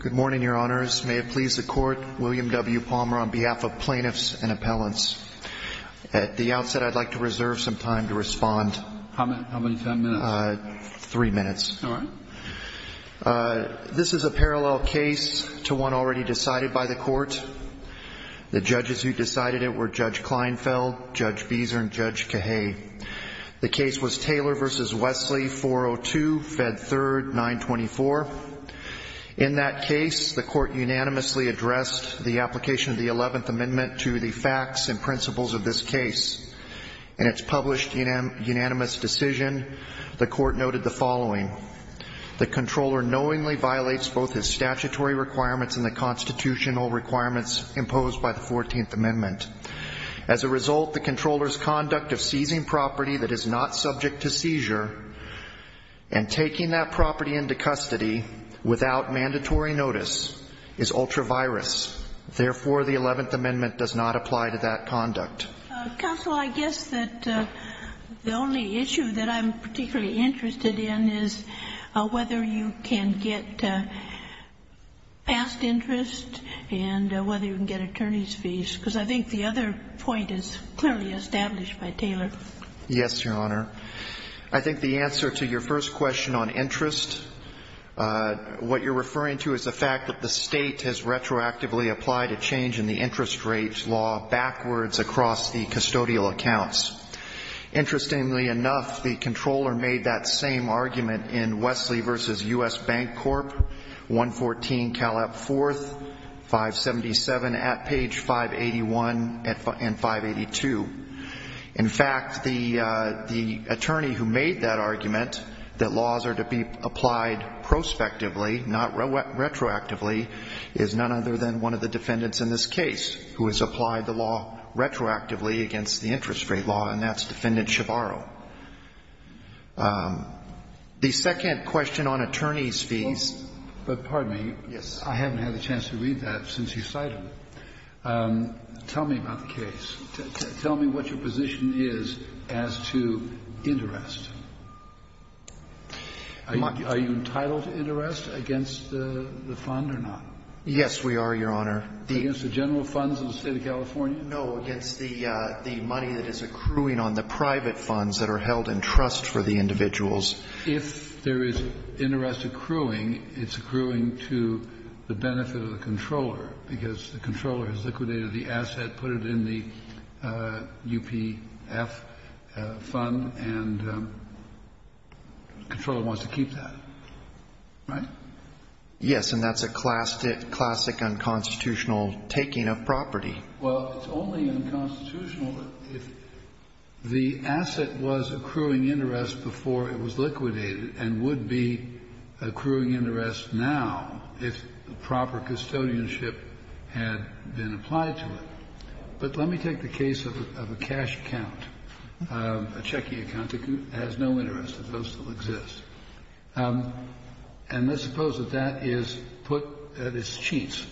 Good morning, Your Honors. May it please the Court, William W. Palmer on behalf of Plaintiffs and Appellants. At the outset, I'd like to reserve some time to respond. How many time minutes? Three minutes. All right. This is a parallel case to one already decided by the Court. The judges who decided it were Judge Kleinfeld, Judge Beeser, and Judge Cahay. The case was Taylor v. Wesley, 402, Fed 3rd, 924. In that case, the Court unanimously addressed the application of the 11th Amendment to the facts and principles of this case. In its published unanimous decision, the Court noted the following. The Comptroller knowingly violates both his statutory requirements and the constitutional requirements imposed by the 14th Amendment. As a result, the Comptroller's conduct of seizing property that is not subject to seizure and taking that property into custody without mandatory notice is ultra-virus. Therefore, the 11th Amendment does not apply to that conduct. Counsel, I guess that the only issue that I'm particularly interested in is whether you can get past interest and whether you can get attorney's fees, because I think the other point is clearly established by Taylor. Yes, Your Honor. I think the answer to your first question on interest, what you're referring to is the fact that the State has retroactively applied a change in the interest rates law backwards across the custodial accounts. Interestingly enough, the Comptroller made that same argument in Wesley v. U.S. Bank Corp., 114 Cal. App. 4, 577 at page 581 and 582. In fact, the attorney who made that argument, that laws are to be applied prospectively, not retroactively, is none other than one of the defendants in this case who has applied the law retroactively against the interest rate law, and that's Defendant Shavaro. The second question on attorney's fees But, pardon me, I haven't had a chance to read that since you cited it. Tell me about the case. Tell me what your position is as to interest. Are you entitled to interest against the fund or not? Yes, we are, Your Honor. Against the general funds of the State of California? No, against the money that is accruing on the private funds that are held in trust for the individuals. If there is interest accruing, it's accruing to the benefit of the Comptroller, because the Comptroller has liquidated the asset, put it in the UPF fund, and the Comptroller wants to keep that, right? Yes, and that's a classic unconstitutional taking of property. Well, it's only unconstitutional if the asset was accruing interest before it was liquidated and would be accruing interest now if proper custodianship had been applied to it. But let me take the case of a cash account, a checking account that has no interest, that still exists. And let's suppose that that is put at its cheats,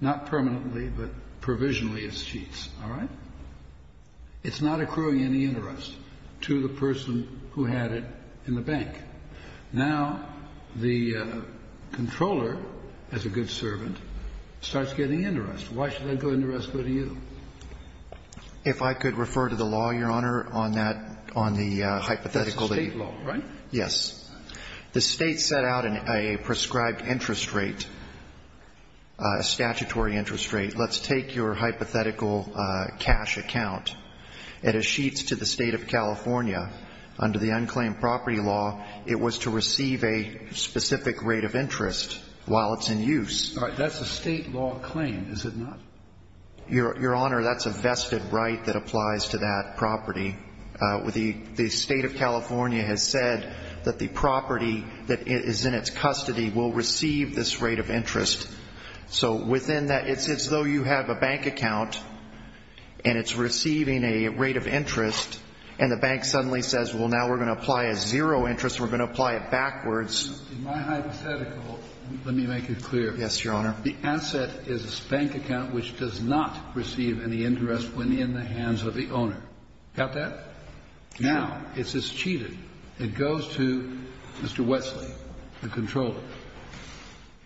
not permanently, but provisionally it's cheats, all right? It's not accruing any interest to the person who had it in the bank. Now, the Comptroller, as a good servant, starts getting interest. Why should that good interest go to you? If I could refer to the law, Your Honor, on that, on the hypothetical. That's the State law, right? Yes. The State set out a prescribed interest rate, a statutory interest rate. Let's take your hypothetical cash account. It is cheats to the State of California under the unclaimed property law. It was to receive a specific rate of interest while it's in use. All right. That's a State law claim, is it not? Your Honor, that's a vested right that applies to that property. The State of California has said that the property that is in its custody will receive this rate of interest. So within that, it's as though you have a bank account, and it's receiving a rate of interest, and the bank suddenly says, well, now we're going to apply a zero interest, and we're going to apply it backwards. In my hypothetical, let me make it clear. Yes, Your Honor. The asset is a bank account which does not receive any interest when in the hands of the owner. Got that? Now, it's just cheated. It goes to Mr. Wesley, the controller.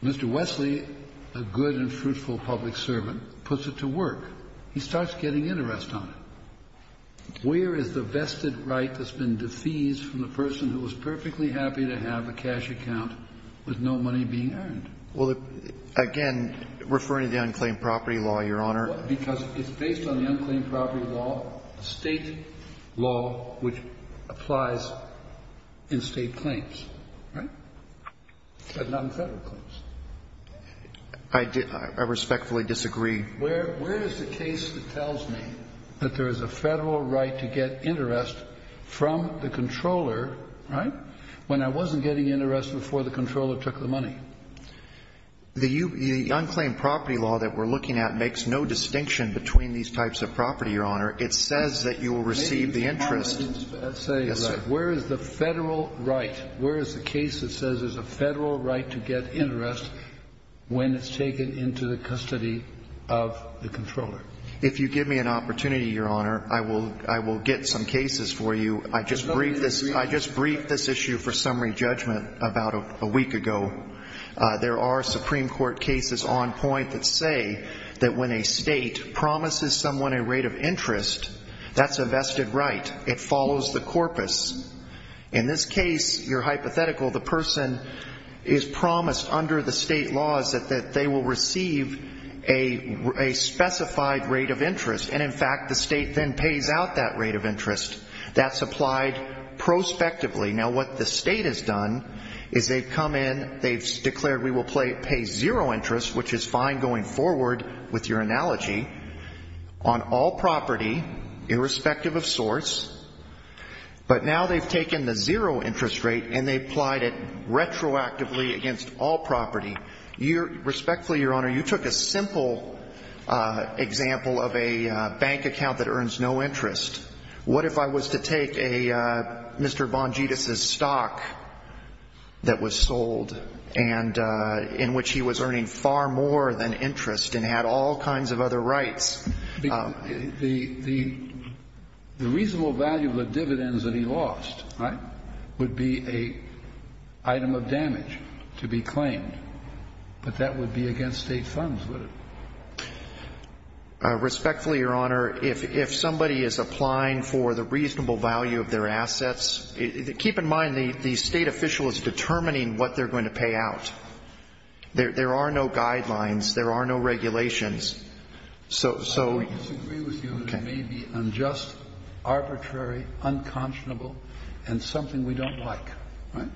Mr. Wesley, a good and fruitful public servant, puts it to work. He starts getting interest on it. Where is the vested right that's been defeased from the person who was perfectly happy to have a cash account with no money being earned? Well, again, referring to the unclaimed property law, Your Honor. Because it's based on the unclaimed property law, a State law which applies in State claims, right? But not in Federal claims. I respectfully disagree. Where is the case that tells me that there is a Federal right to get interest from the controller, right, when I wasn't getting interest before the controller took the money? The unclaimed property law that we're looking at makes no distinction between these types of property, Your Honor. It says that you will receive the interest. Let's say that. Yes, sir. Where is the Federal right? Where is the case that says there's a Federal right to get interest when it's taken into the custody of the controller? If you give me an opportunity, Your Honor, I will get some cases for you. I just briefed this issue for summary judgment about a week ago. There are Supreme Court cases on point that say that when a State promises someone a rate of interest, that's a vested right. It follows the corpus. In this case, you're hypothetical. The person is promised under the State laws that they will receive a specified rate of interest. And in fact, the State then pays out that rate of interest. That's applied prospectively. Now, what the State has done is they've come in, they've declared we will pay zero interest, which is fine going forward with your analogy, on all property, irrespective of source. But now they've taken the zero interest rate and they've applied it retroactively against all property. Respectfully, Your Honor, you took a simple example of a bank account that earns no interest. What if I was to take Mr. Bongetus' stock that was sold and in which he was earning far more than interest and had all kinds of other rights? The reasonable value of the dividends that he lost, right, would be an item of damage to be claimed. But that would be against State funds, would it? Respectfully, Your Honor, if somebody is applying for the reasonable value of their assets, keep in mind the State official is determining what they're going to pay out. There are no guidelines. There are no regulations. I disagree with you. It may be unjust, arbitrary, unconscionable, and something we don't like, right?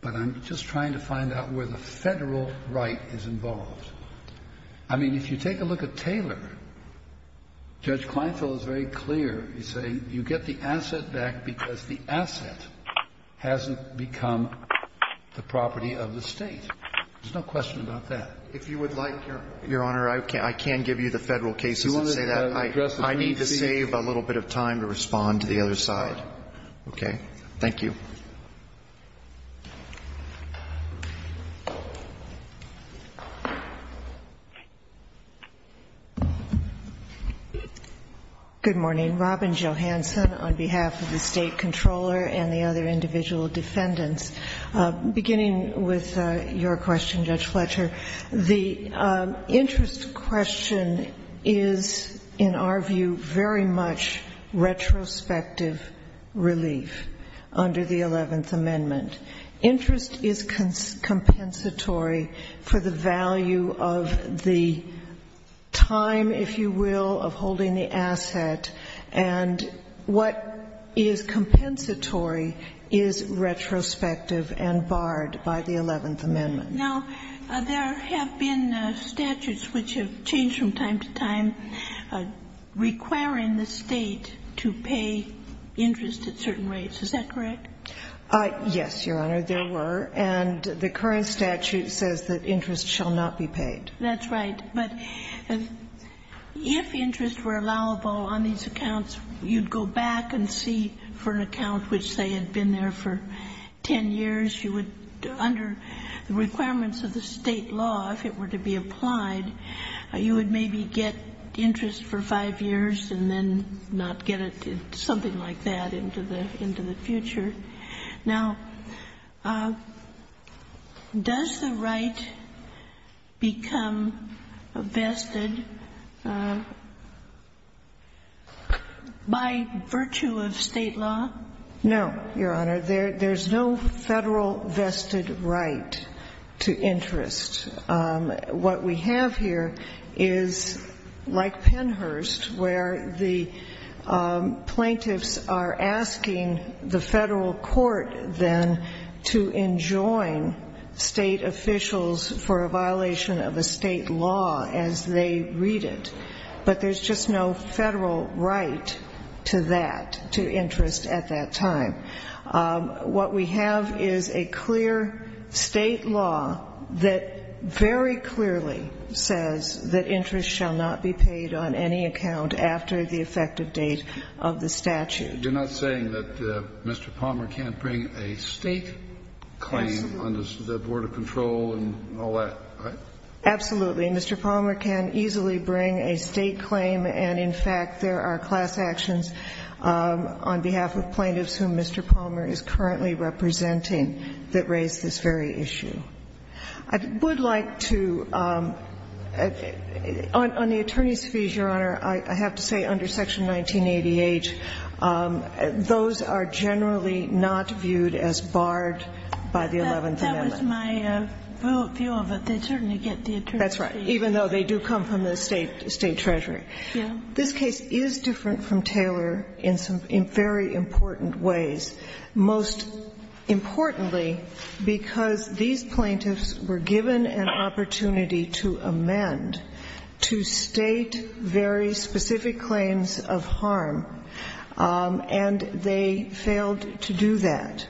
But I'm just trying to find out where the Federal right is involved. I mean, if you take a look at Taylor, Judge Kleinfeld is very clear. He's saying you get the asset back because the asset hasn't become the property of the State. There's no question about that. If you would like, Your Honor, I can give you the Federal cases that say that. I need to save a little bit of time to respond to the other side. Okay? Thank you. Thank you. Good morning. Robin Johansson on behalf of the State Comptroller and the other individual defendants. Beginning with your question, Judge Fletcher, the interest question is, in our view, very much retrospective relief under the Eleventh Amendment. Interest is compensatory for the value of the time, if you will, of holding the asset. And what is compensatory is retrospective and barred by the Eleventh Amendment. Now, there have been statutes which have changed from time to time requiring the State to pay interest at certain rates. Is that correct? Yes, Your Honor, there were. And the current statute says that interest shall not be paid. That's right. But if interest were allowable on these accounts, you'd go back and see for an account which, say, had been there for ten years, you would, under the requirements of the State law, if it were to be applied, you would maybe get interest for five years and then not get it, something like that, into the future. Now, does the right become vested by virtue of State law? No, Your Honor. There's no Federal vested right to interest. What we have here is like Pennhurst, where the plaintiffs are asking the Federal Court then to enjoin State officials for a violation of a State law as they read it. But there's just no Federal right to that, to interest at that time. What we have is a clear State law that very clearly says that interest shall not be paid on any account after the effective date of the statute. You're not saying that Mr. Palmer can't bring a State claim on the Board of Control and all that, right? Absolutely. Mr. Palmer can easily bring a State claim and, in fact, there are class actions on behalf of plaintiffs whom Mr. Palmer is currently representing that raise this very issue. I would like to, on the attorney's fees, Your Honor, I have to say under Section 1988, those are generally not viewed as barred by the Eleventh Amendment. That was my view of it. They certainly get the attorney's fees. That's right, even though they do come from the State treasury. This case is different from Taylor in some very important ways, most importantly because these plaintiffs were given an opportunity to amend, to state very specific claims of harm, and they failed to do that.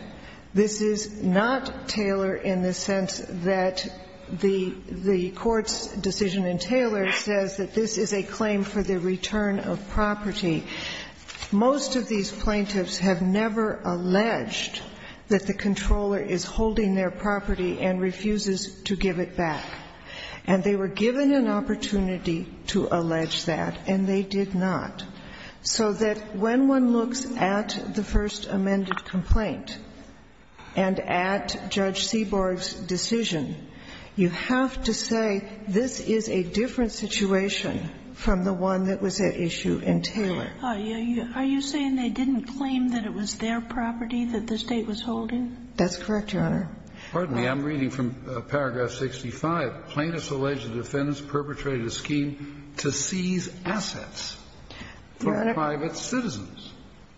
This is not Taylor in the sense that the Court's decision in Taylor says that this is a claim for the return of property. Most of these plaintiffs have never alleged that the controller is holding their property and refuses to give it back. And they were given an opportunity to allege that, and they did not. So that when one looks at the First Amended Complaint and at Judge Seaborg's decision, you have to say this is a different situation from the one that was at issue in Taylor. Are you saying they didn't claim that it was their property that the State was holding? That's correct, Your Honor. Pardon me. I'm reading from Paragraph 65.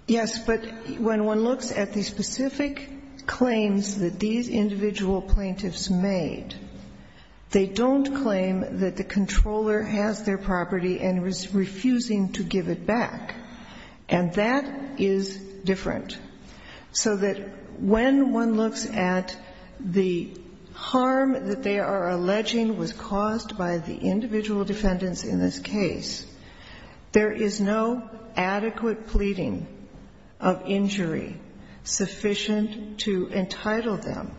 Yes, but when one looks at the specific claims that these individual plaintiffs made, they don't claim that the controller has their property and is refusing to give it back. And that is different. So that when one looks at the harm that they are alleged to have done to the State, there is no adequate pleading of injury sufficient to entitle them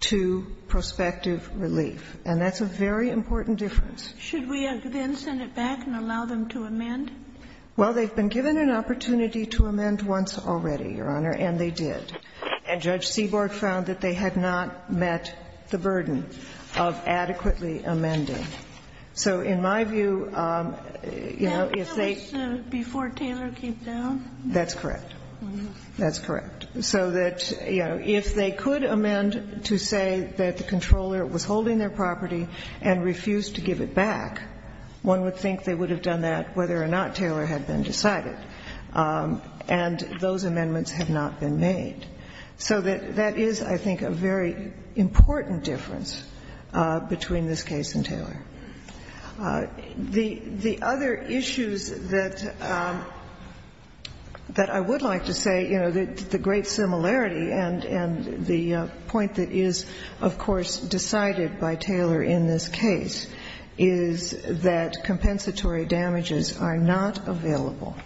to prospective relief. And that's a very important difference. Should we then send it back and allow them to amend? Well, they've been given an opportunity to amend once already, Your Honor, and they did. And Judge Seaborg found that they had not met the burden of adequately amending. So in my view, you know, if they can't. Before Taylor came down? That's correct. That's correct. So that, you know, if they could amend to say that the controller was holding their property and refused to give it back, one would think they would have done that whether or not Taylor had been decided. And those amendments have not been made. So that is, I think, a very important difference between this case and Taylor. The other issues that I would like to say, you know, the great similarity and the point that is, of course, decided by Taylor in this case, is that compensatory damages are not available.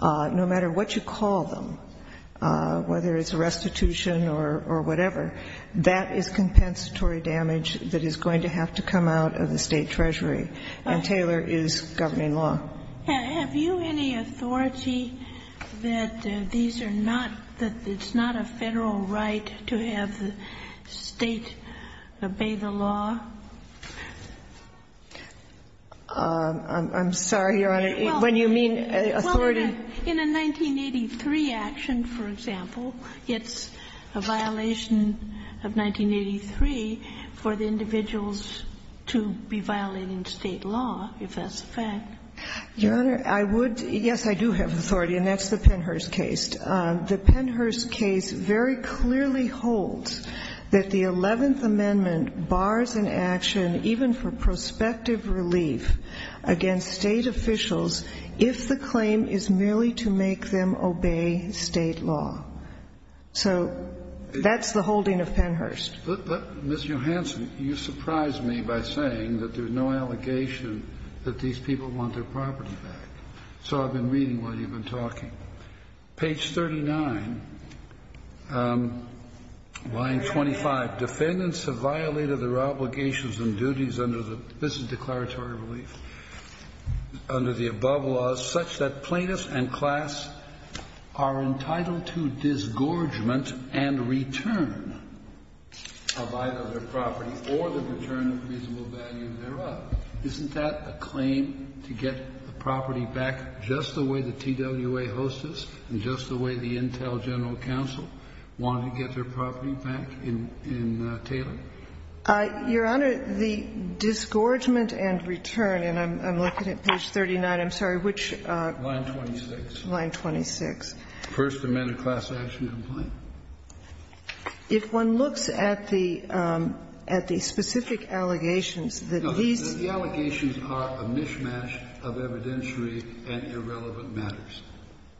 No matter what you call them, whether it's restitution or whatever, that is compensatory damage that is going to have to come out of the state treasury. And Taylor is governing law. Have you any authority that these are not, that it's not a federal right to have the state obey the law? I'm sorry, Your Honor, when you mean authority? Well, in a 1983 action, for example, it's a violation of 1983 for the individuals to be violating state law, if that's a fact. Your Honor, I would, yes, I do have authority, and that's the Pennhurst case. The Pennhurst case very clearly holds that the Eleventh Amendment bars and exonerates in any action, even for prospective relief against state officials, if the claim is merely to make them obey state law. So that's the holding of Pennhurst. But, Ms. Johansen, you surprised me by saying that there's no allegation that these people want their property back. So I've been reading what you've been talking. Page 39, line 25. Defendants have violated their obligations and duties under the, this is declaratory relief, under the above laws such that plaintiffs and class are entitled to disgorgement and return of either their property or the return of reasonable value thereof. Isn't that a claim to get the property back just the way the TWA hostess and just the way the Intel General Counsel wanted to get their property back in Taylor? Your Honor, the disgorgement and return, and I'm looking at page 39. I'm sorry, which? Line 26. Line 26. First Amendment class action complaint. If one looks at the, at the specific allegations that these. No. The allegations are a mishmash of evidentiary and irrelevant matters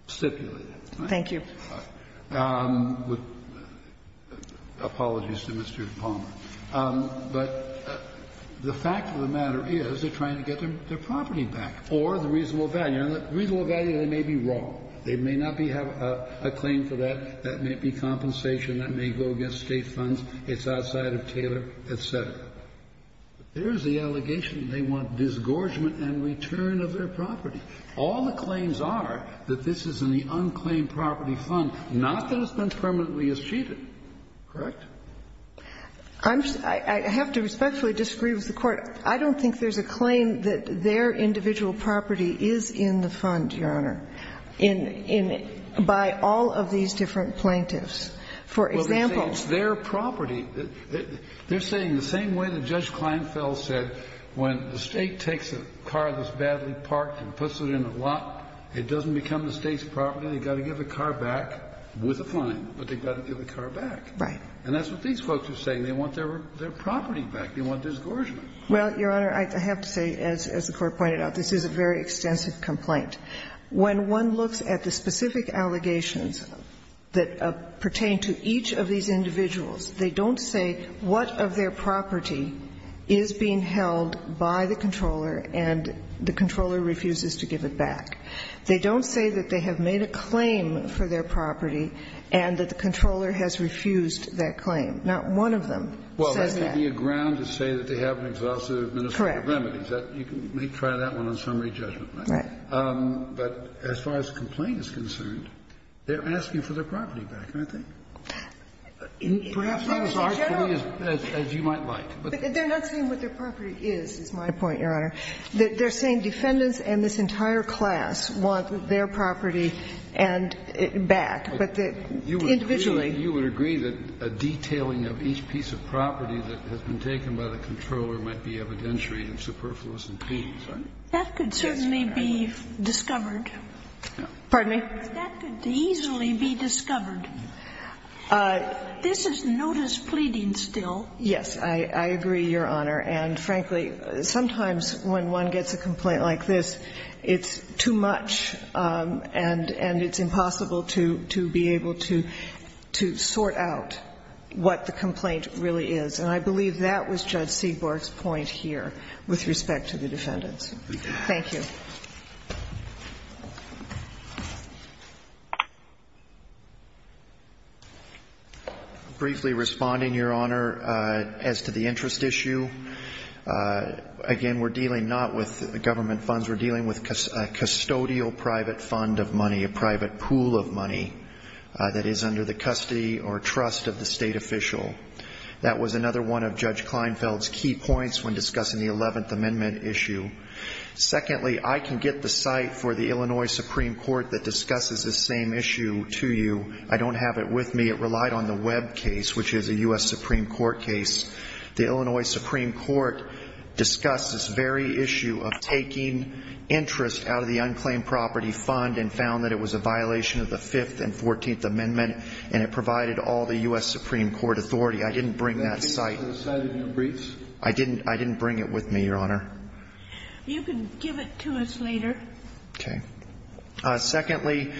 stipulated. Thank you. Apologies to Mr. Palmer. But the fact of the matter is they're trying to get their property back or the reasonable value. And the reasonable value, they may be wrong. They may not have a claim for that. That may be compensation. That may go against State funds. It's outside of Taylor, et cetera. But there's the allegation that they want disgorgement and return of their property. All the claims are that this is in the unclaimed property fund, not that it's been permanently achieved. Correct? I'm just, I have to respectfully disagree with the Court. Well, Your Honor, I have to say, as the Court pointed out, this is a very extensive complaint. When one looks at the specific allegations, the allegations are that the State has taken a car that's badly parked and put it in a lot. It doesn't become the State's property. They've got to give the car back with a fine. But they've got to give the car back. Right. And that's what these folks are saying. They want their property back. They want disgorgement. Well, Your Honor, I have to say, as the Court pointed out, this is a very extensive complaint. When one looks at the specific allegations that pertain to each of these individuals, they don't say what of their property is being held by the controller and the controller refuses to give it back. They don't say that they have made a claim for their property and that the controller has refused that claim. Not one of them says that. It would be a ground to say that they have an exhaustive ministry of remedies. Correct. You can try that one on summary judgment. Right. But as far as the complaint is concerned, they're asking for their property back, aren't they? Perhaps not as arduously as you might like. But they're not saying what their property is, is my point, Your Honor. They're saying defendants and this entire class want their property back. But the individual. You would agree that a detailing of each piece of property that has been taken by the controller might be evidentiary and superfluous in pleadings, right? That could certainly be discovered. Pardon me? That could easily be discovered. This is notice pleading still. Yes, I agree, Your Honor. And frankly, sometimes when one gets a complaint like this, it's too much and it's impossible to be able to sort out what the complaint really is. And I believe that was Judge Seaborg's point here with respect to the defendants. Thank you. Briefly responding, Your Honor, as to the interest issue. Again, we're dealing not with government funds. We're dealing with a custodial private fund of money, a private pool of money that is under the custody or trust of the state official. That was another one of Judge Kleinfeld's key points when discussing the Eleventh Amendment issue. Secondly, I can get the site for the Illinois Supreme Court that discusses this same issue to you. I don't have it with me. It relied on the Webb case, which is a U.S. Supreme Court case. The Illinois Supreme Court discussed this very issue of taking interest out of the unclaimed property fund and found that it was a violation of the Fifth and Fourteenth Amendment and it provided all the U.S. Supreme Court authority. I didn't bring that site. I didn't bring it with me, Your Honor. You can give it to us later. Okay. Secondly,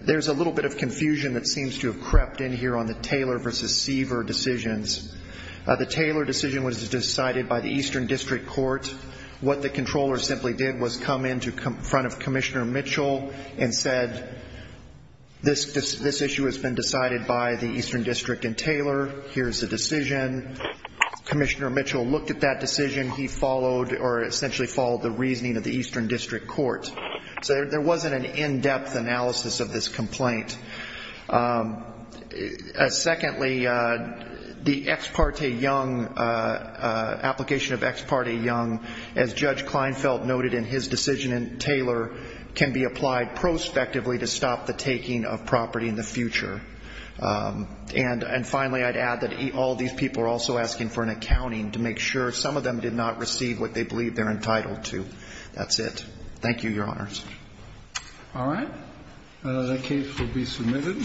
there's a little bit of confusion that seems to have crept in here on the Taylor v. Seaver decisions. The Taylor decision was decided by the Eastern District Court. What the Comptroller simply did was come in front of Commissioner Mitchell and said, this issue has been decided by the Eastern District and Taylor. Here's the decision. Commissioner Mitchell looked at that decision. He essentially followed the reasoning of the Eastern District Court. There wasn't an in-depth analysis of this complaint. Secondly, the Ex Parte Young, application of Ex Parte Young, as Judge Kleinfeld noted in his decision in Taylor, can be applied prospectively to stop the taking of property in the future. And finally, I'd add that all these people are also asking for an accounting to make sure some of them did not receive what they believe they're entitled to. That's it. Thank you, Your Honor. All right. The case will be submitted.